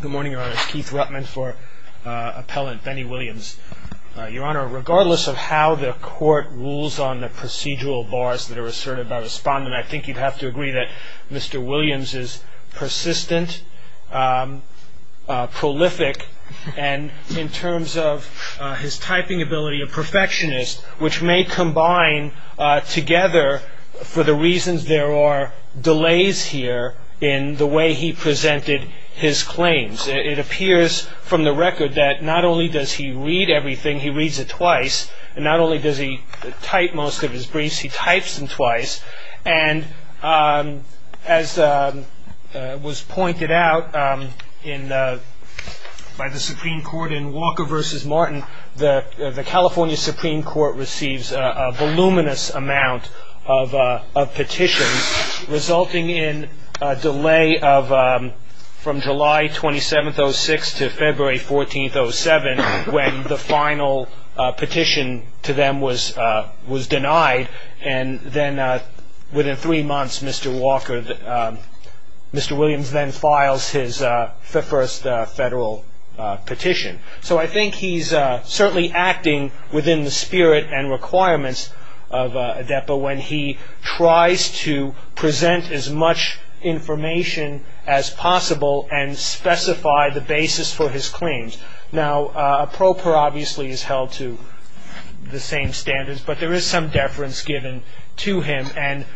Good morning, Your Honor. It's Keith Ruttman for Appellant Benny Williams. Your Honor, regardless of how the Court rules on the procedural bars that are asserted by the respondent, I think you'd have to agree that Mr. Williams is persistent, prolific, and in terms of his typing ability, a perfectionist, which may combine together for the reasons there are delays here in the way he presented his claims. It appears from the record that not only does he read everything, he reads it twice, and not only does he type most of his briefs, he types them twice, and as was pointed out by the Supreme Court in Walker v. Martin, the California Supreme Court receives a voluminous amount of petitions, resulting in a delay from July 27, 2006, to February 14, 2007, when the final petition to them was denied. And then within three months, Mr. Williams then files his first federal petition. So I think he's certainly acting within the spirit and requirements of a depot when he tries to present as much information as possible and specify the basis for his claims. Now, a pro per obviously is held to the same standards, but there is some deference given to him, and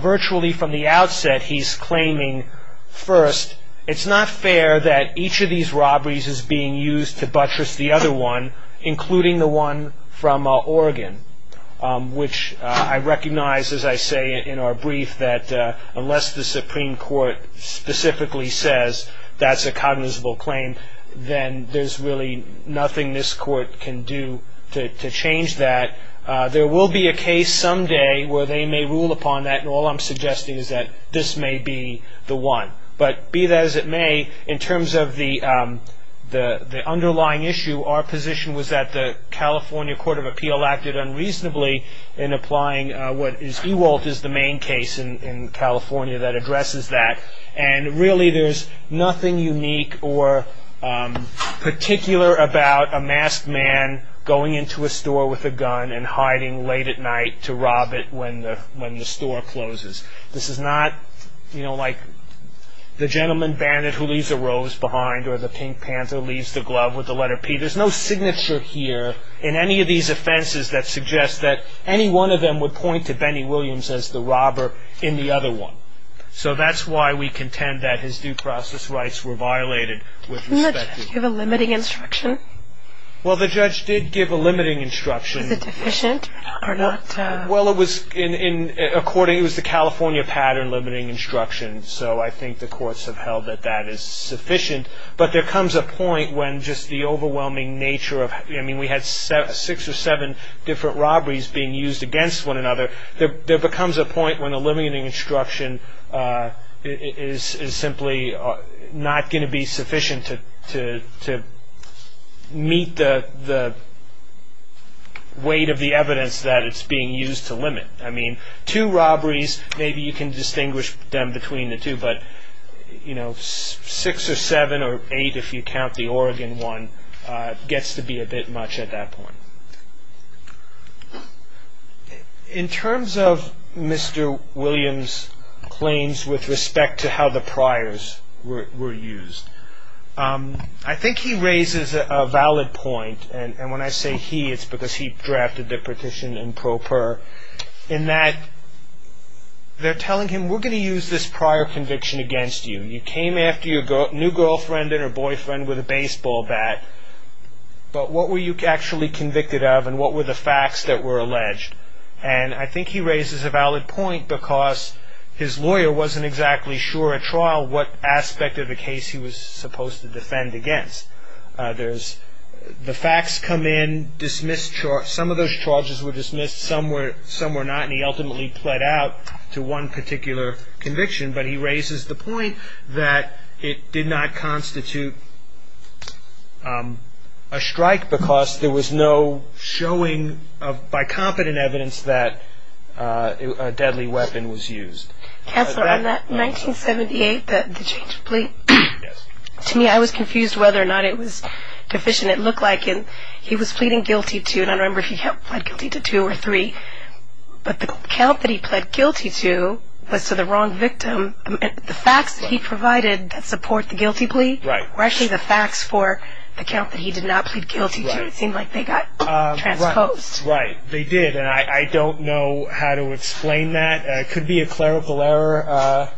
virtually from the outset, he's claiming, first, it's not fair that each of these robberies is being used to buttress the other one, including the one from Oregon, which I recognize, as I say in our brief, that unless the Supreme Court specifically says that's a cognizable claim, then there's really nothing this court can do to change that. There will be a case someday where they may rule upon that, and all I'm suggesting is that this may be the one. But be that as it may, in terms of the underlying issue, our position was that the California Court of Appeal acted unreasonably in applying what is EWALT is the main case in California that addresses that, and really there's nothing unique or particular about a masked man going into a store with a gun and hiding late at night to rob it when the store closes. This is not like the gentleman bandit who leaves a rose behind or the pink panther who leaves the glove with the letter P. There's no signature here in any of these offenses that suggests that any one of them would point to Benny Williams as the robber in the other one. So that's why we contend that his due process rights were violated with respect to that. Didn't the judge give a limiting instruction? Well, the judge did give a limiting instruction. Is it efficient or not? Well, it was the California pattern limiting instruction, so I think the courts have held that that is sufficient. But there comes a point when just the overwhelming nature of— I mean, we had six or seven different robberies being used against one another. There becomes a point when a limiting instruction is simply not going to be sufficient to meet the weight of the evidence that it's being used to limit. I mean, two robberies, maybe you can distinguish them between the two, but six or seven or eight if you count the Oregon one gets to be a bit much at that point. In terms of Mr. Williams' claims with respect to how the priors were used, I think he raises a valid point, and when I say he, it's because he drafted the petition in pro per, in that they're telling him, we're going to use this prior conviction against you. You came after your new girlfriend or boyfriend with a baseball bat, but what were you actually convicted of and what were the facts that were alleged? And I think he raises a valid point because his lawyer wasn't exactly sure at trial what aspect of the case he was supposed to defend against. The facts come in, some of those charges were dismissed, some were not, and he ultimately pled out to one particular conviction, but he raises the point that it did not constitute a strike because there was no showing, by competent evidence, that a deadly weapon was used. Counselor, on that 1978, the change of plea, to me I was confused whether or not it was deficient. It looked like he was pleading guilty to, and I don't remember if he pled guilty to two or three, but the count that he pled guilty to was to the wrong victim. The facts that he provided that support the guilty plea were actually the facts for the count that he did not plead guilty to. It seemed like they got transposed. Right, they did, and I don't know how to explain that. It could be a clerical error.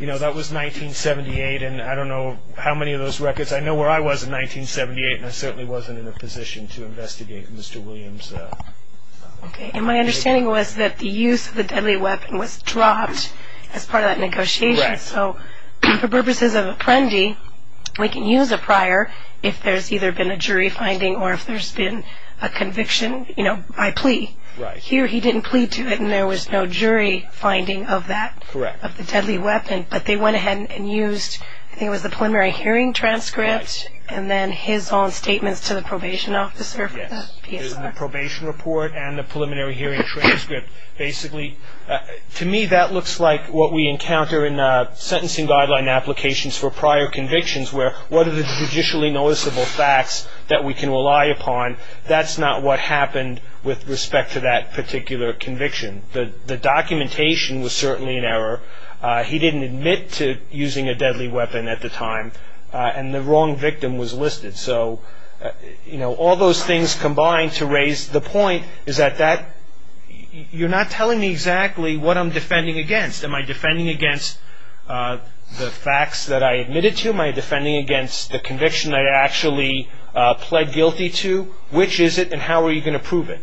You know, that was 1978, and I don't know how many of those records. I know where I was in 1978, and I certainly wasn't in a position to investigate Mr. Williams. Okay, and my understanding was that the use of the deadly weapon was dropped as part of that negotiation. Correct. So for purposes of apprendi, we can use a prior if there's either been a jury finding or if there's been a conviction, you know, by plea. Right. Here he didn't plead to it, and there was no jury finding of that, of the deadly weapon, but they went ahead and used, I think it was the preliminary hearing transcript, and then his own statements to the probation officer for the PSI. The probation report and the preliminary hearing transcript. Basically, to me, that looks like what we encounter in sentencing guideline applications for prior convictions, where what are the judicially noticeable facts that we can rely upon. That's not what happened with respect to that particular conviction. The documentation was certainly an error. He didn't admit to using a deadly weapon at the time, and the wrong victim was listed. So, you know, all those things combined to raise the point is that you're not telling me exactly what I'm defending against. Am I defending against the facts that I admitted to? Am I defending against the conviction I actually pled guilty to? Which is it, and how are you going to prove it?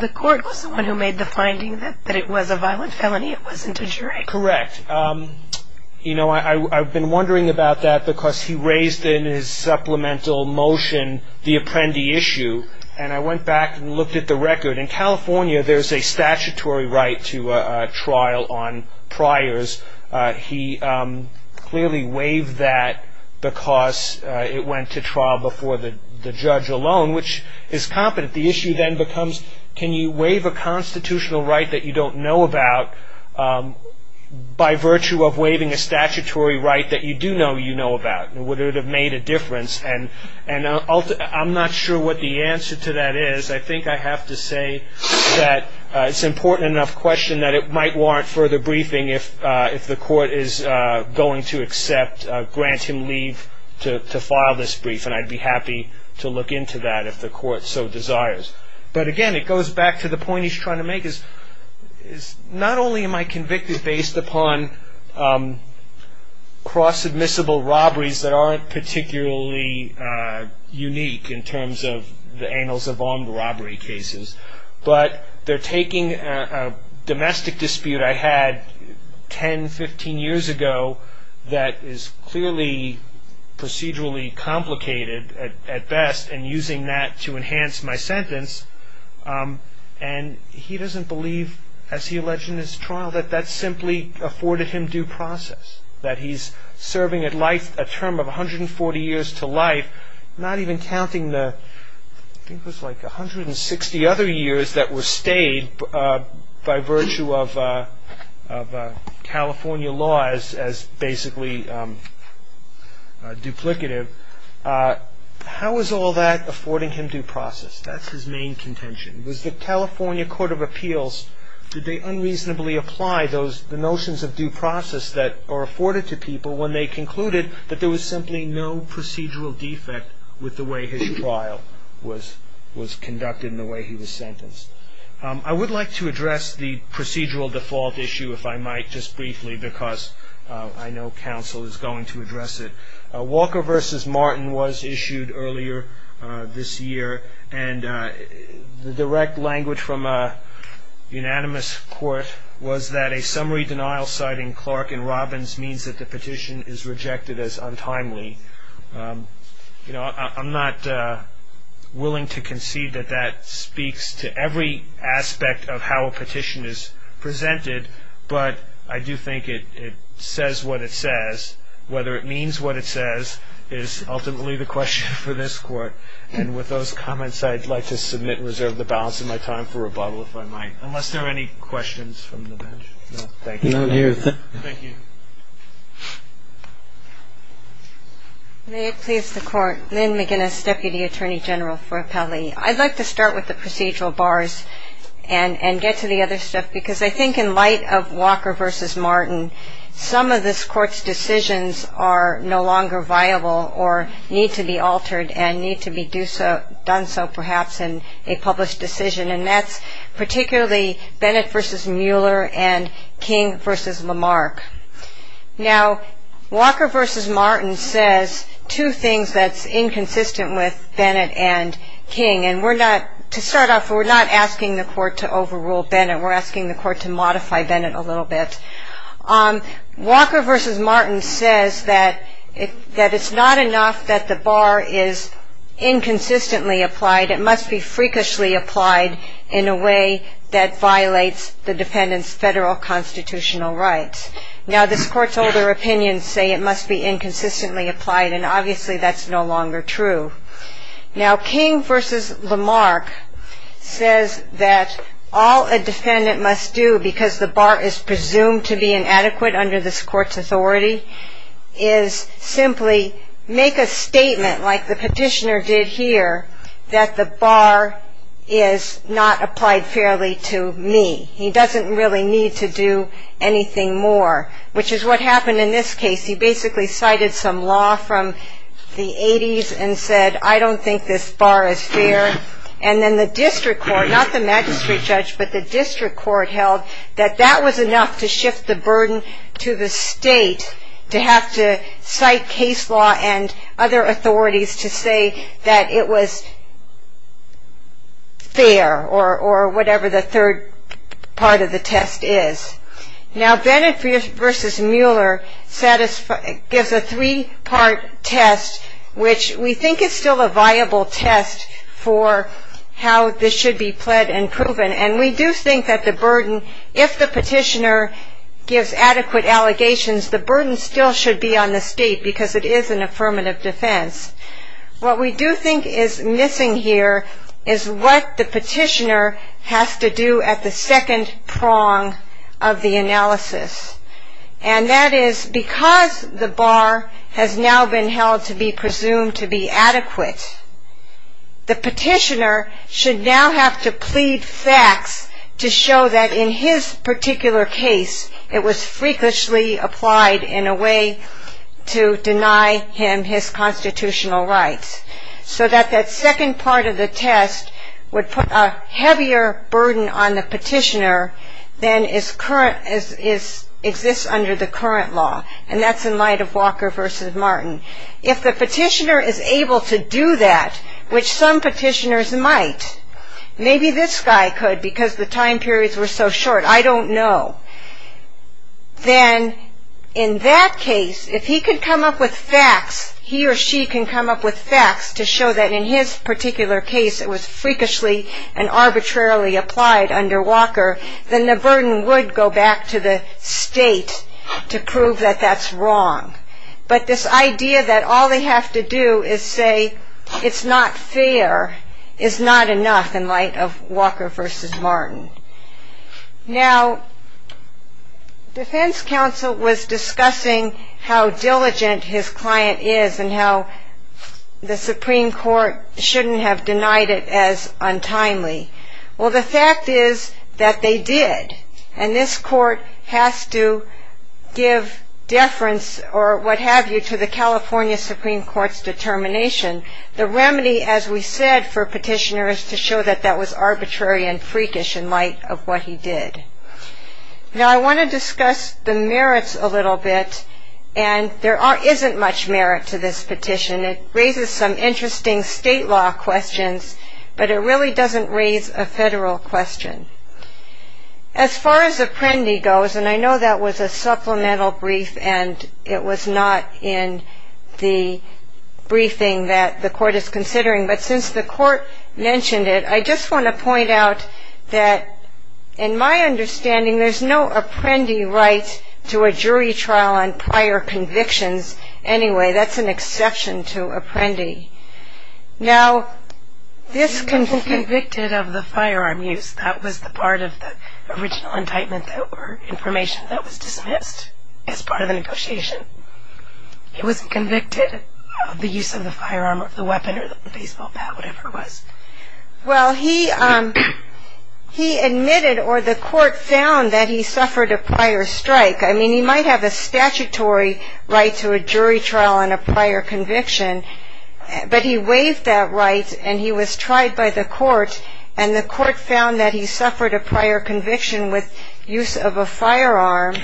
The court was the one who made the finding that it was a violent felony. It wasn't a jury. Correct. You know, I've been wondering about that because he raised in his supplemental motion the apprendee issue, and I went back and looked at the record. In California, there's a statutory right to trial on priors. He clearly waived that because it went to trial before the judge alone, which is competent. The issue then becomes can you waive a constitutional right that you don't know about by virtue of waiving a statutory right that you do know you know about? Would it have made a difference? I'm not sure what the answer to that is. I think I have to say that it's an important enough question that it might warrant further briefing if the court is going to accept, grant him leave to file this brief, and I'd be happy to look into that if the court so desires. But, again, it goes back to the point he's trying to make is not only am I convicted based upon cross-admissible robberies that aren't particularly unique in terms of the annals of armed robbery cases, but they're taking a domestic dispute I had 10, 15 years ago that is clearly procedurally complicated at best and using that to enhance my sentence, and he doesn't believe, as he alleged in his trial, that that simply afforded him due process, that he's serving a term of 140 years to life, not even counting the, I think it was like 160 other years that were stayed by virtue of California laws as basically duplicative. How is all that affording him due process? That's his main contention. Was the California Court of Appeals, did they unreasonably apply the notions of due process that are afforded to people when they concluded that there was simply no procedural defect with the way his trial was conducted and the way he was sentenced? I would like to address the procedural default issue, if I might, just briefly, because I know counsel is going to address it. Walker v. Martin was issued earlier this year, and the direct language from a unanimous court was that a summary denial citing Clark and Robbins means that the petition is rejected as untimely. I'm not willing to concede that that speaks to every aspect of how a petition is presented, but I do think it says what it says. Whether it means what it says is ultimately the question for this court, and with those comments, I'd like to submit and reserve the balance of my time for rebuttal, if I might, unless there are any questions from the bench. No, thank you. Thank you. May it please the court, Lynn McGinnis, Deputy Attorney General for Appellee. I'd like to start with the procedural bars and get to the other stuff, because I think in light of Walker v. Martin, some of this court's decisions are no longer viable or need to be altered and need to be done so perhaps in a published decision, and that's particularly Bennett v. Mueller and King v. Lamarck. Now, Walker v. Martin says two things that's inconsistent with Bennett and King, and to start off, we're not asking the court to overrule Bennett. We're asking the court to modify Bennett a little bit. Walker v. Martin says that it's not enough that the bar is inconsistently applied. It must be freakishly applied in a way that violates the defendant's federal constitutional rights. Now, this court's older opinions say it must be inconsistently applied, and obviously that's no longer true. Now, King v. Lamarck says that all a defendant must do because the bar is presumed to be inadequate under this court's authority is simply make a statement like the petitioner did here that the bar is not applied fairly to me. He doesn't really need to do anything more, which is what happened in this case. He basically cited some law from the 80s and said, I don't think this bar is fair, and then the district court, not the magistrate judge, but the district court held that that was enough to shift the burden to the state to have to cite case law and other authorities to say that it was fair or whatever the third part of the test is. Now, Bennett v. Mueller gives a three-part test, which we think is still a viable test for how this should be pled and proven, and we do think that the burden, if the petitioner gives adequate allegations, the burden still should be on the state because it is an affirmative defense. What we do think is missing here is what the petitioner has to do at the second prong of the analysis, and that is because the bar has now been held to be presumed to be adequate, the petitioner should now have to plead facts to show that in his particular case it was frequently applied in a way to deny him his constitutional rights so that that second part of the test would put a heavier burden on the petitioner than exists under the current law, and that's in light of Walker v. Martin. If the petitioner is able to do that, which some petitioners might, maybe this guy could because the time periods were so short, I don't know, then in that case, if he could come up with facts, he or she can come up with facts to show that in his particular case it was freakishly and arbitrarily applied under Walker, then the burden would go back to the state to prove that that's wrong, but this idea that all they have to do is say it's not fair is not enough in light of Walker v. Martin. Now, defense counsel was discussing how diligent his client is and how the Supreme Court shouldn't have denied it as untimely. Well, the fact is that they did, and this court has to give deference or what have you to the California Supreme Court's determination. The remedy, as we said, for a petitioner is to show that that was arbitrary and freakish in light of what he did. Now, I want to discuss the merits a little bit, and there isn't much merit to this petition. It raises some interesting state law questions, but it really doesn't raise a federal question. As far as Apprendi goes, and I know that was a supplemental brief and it was not in the briefing that the court is considering, but since the court mentioned it, I just want to point out that in my understanding, there's no Apprendi right to a jury trial on prior convictions. Anyway, that's an exception to Apprendi. Now, this can be convicted of the firearm use. That was the part of the original indictment or information that was dismissed as part of the negotiation. He wasn't convicted of the use of the firearm or the weapon or the baseball bat or whatever it was. Well, he admitted or the court found that he suffered a prior strike. I mean, he might have a statutory right to a jury trial on a prior conviction, but he waived that right and he was tried by the court, and the court found that he suffered a prior conviction with use of a firearm.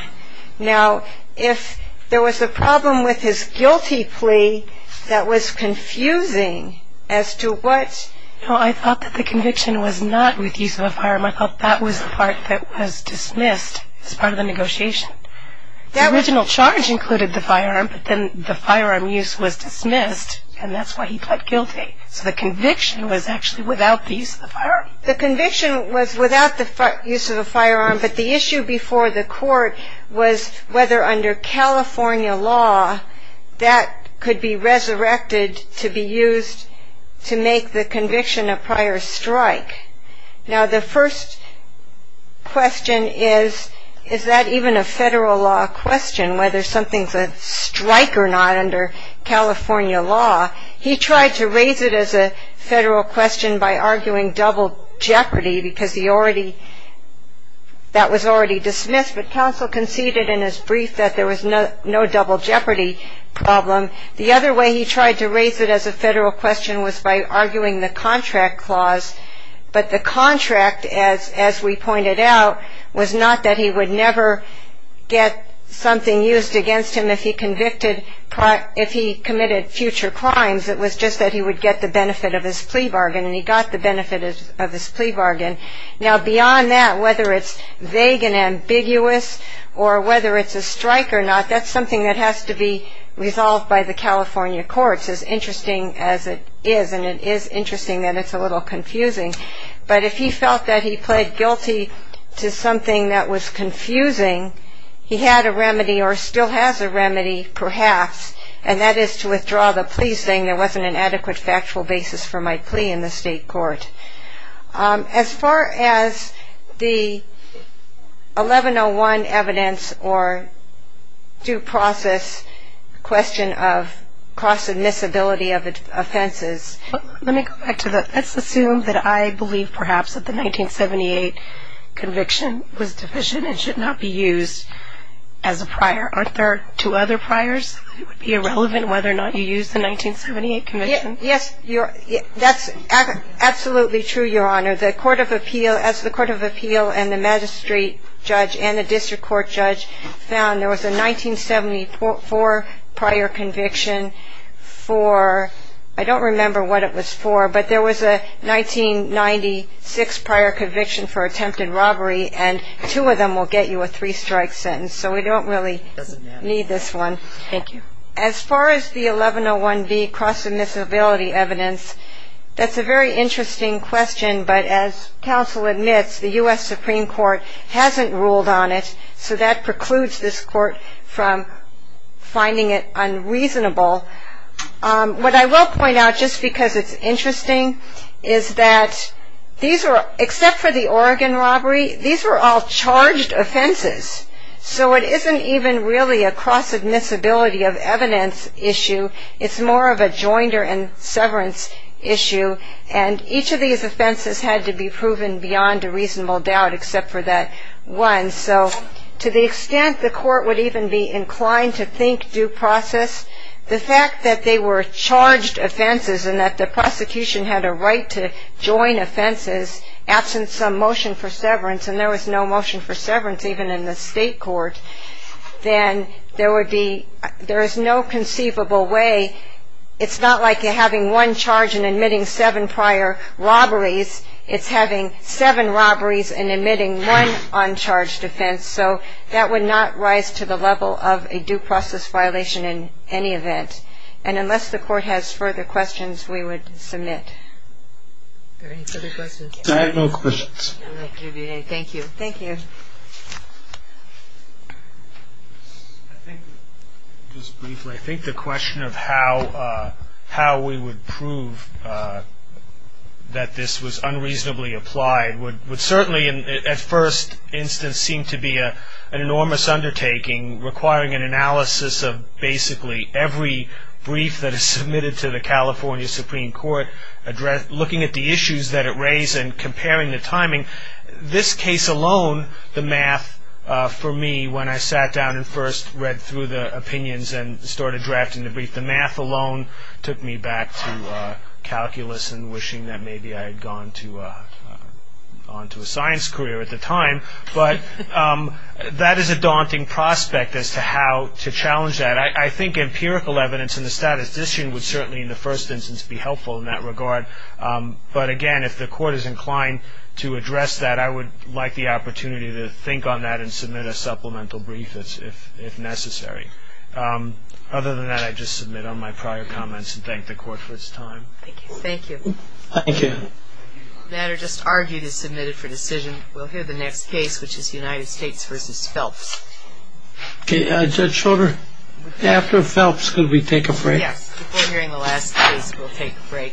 Now, if there was a problem with his guilty plea that was confusing as to what... No, I thought that the conviction was not with use of a firearm. I thought that was the part that was dismissed as part of the negotiation. The original charge included the firearm, but then the firearm use was dismissed, and that's why he pled guilty. So the conviction was actually without the use of the firearm. The conviction was without the use of a firearm, but the issue before the court was whether under California law, that could be resurrected to be used to make the conviction a prior strike. Now, the first question is, is that even a federal law question, whether something's a strike or not under California law? He tried to raise it as a federal question by arguing double jeopardy, because that was already dismissed, but counsel conceded in his brief that there was no double jeopardy problem. The other way he tried to raise it as a federal question was by arguing the contract clause but the contract, as we pointed out, was not that he would never get something used against him if he committed future crimes. It was just that he would get the benefit of his plea bargain, and he got the benefit of his plea bargain. Now, beyond that, whether it's vague and ambiguous or whether it's a strike or not, that's something that has to be resolved by the California courts, as interesting as it is, and it is interesting that it's a little confusing, but if he felt that he pled guilty to something that was confusing, he had a remedy or still has a remedy, perhaps, and that is to withdraw the plea, saying there wasn't an adequate factual basis for my plea in the state court. As far as the 1101 evidence or due process question of cross-admissibility of offenses, let's assume that I believe perhaps that the 1978 conviction was deficient and should not be used as a prior. Aren't there two other priors? It would be irrelevant whether or not you used the 1978 conviction. Yes, that's absolutely true, Your Honor. As the Court of Appeal and the magistrate judge and the district court judge found, there was a 1974 prior conviction for, I don't remember what it was for, but there was a 1996 prior conviction for attempted robbery, and two of them will get you a three-strike sentence, so we don't really need this one. Thank you. As far as the 1101B cross-admissibility evidence, that's a very interesting question, but as counsel admits, the U.S. Supreme Court hasn't ruled on it, so that precludes this court from finding it unreasonable. What I will point out, just because it's interesting, is that these are, except for the Oregon robbery, these were all charged offenses, so it isn't even really a cross-admissibility of evidence issue. It's more of a jointer and severance issue, and each of these offenses had to be proven beyond a reasonable doubt except for that one. So to the extent the court would even be inclined to think due process, the fact that they were charged offenses and that the prosecution had a right to join offenses absent some motion for severance, and there was no motion for severance even in the state court, then there is no conceivable way. It's not like you're having one charge and admitting seven prior robberies. It's having seven robberies and admitting one uncharged offense, so that would not rise to the level of a due process violation in any event. And unless the court has further questions, we would submit. Are there any further questions? I have no questions. Thank you. Just briefly, I think the question of how we would prove that this was unreasonably applied would certainly at first instance seem to be an enormous undertaking, requiring an analysis of basically every brief that is submitted to the California Supreme Court, looking at the issues that it raised and comparing the timing. This case alone, the math for me when I sat down and first read through the opinions and started drafting the brief, the math alone took me back to calculus and wishing that maybe I had gone on to a science career at the time. But that is a daunting prospect as to how to challenge that. I think empirical evidence and the statistician would certainly in the first instance be helpful in that regard. But again, if the court is inclined to address that, I would like the opportunity to think on that and submit a supplemental brief if necessary. Other than that, I'd just submit on my prior comments and thank the court for its time. Thank you. Thank you. Thank you. The matter just argued is submitted for decision. We'll hear the next case, which is United States v. Phelps. Judge Schroeder, after Phelps, could we take a break? Before hearing the last case, we'll take a break.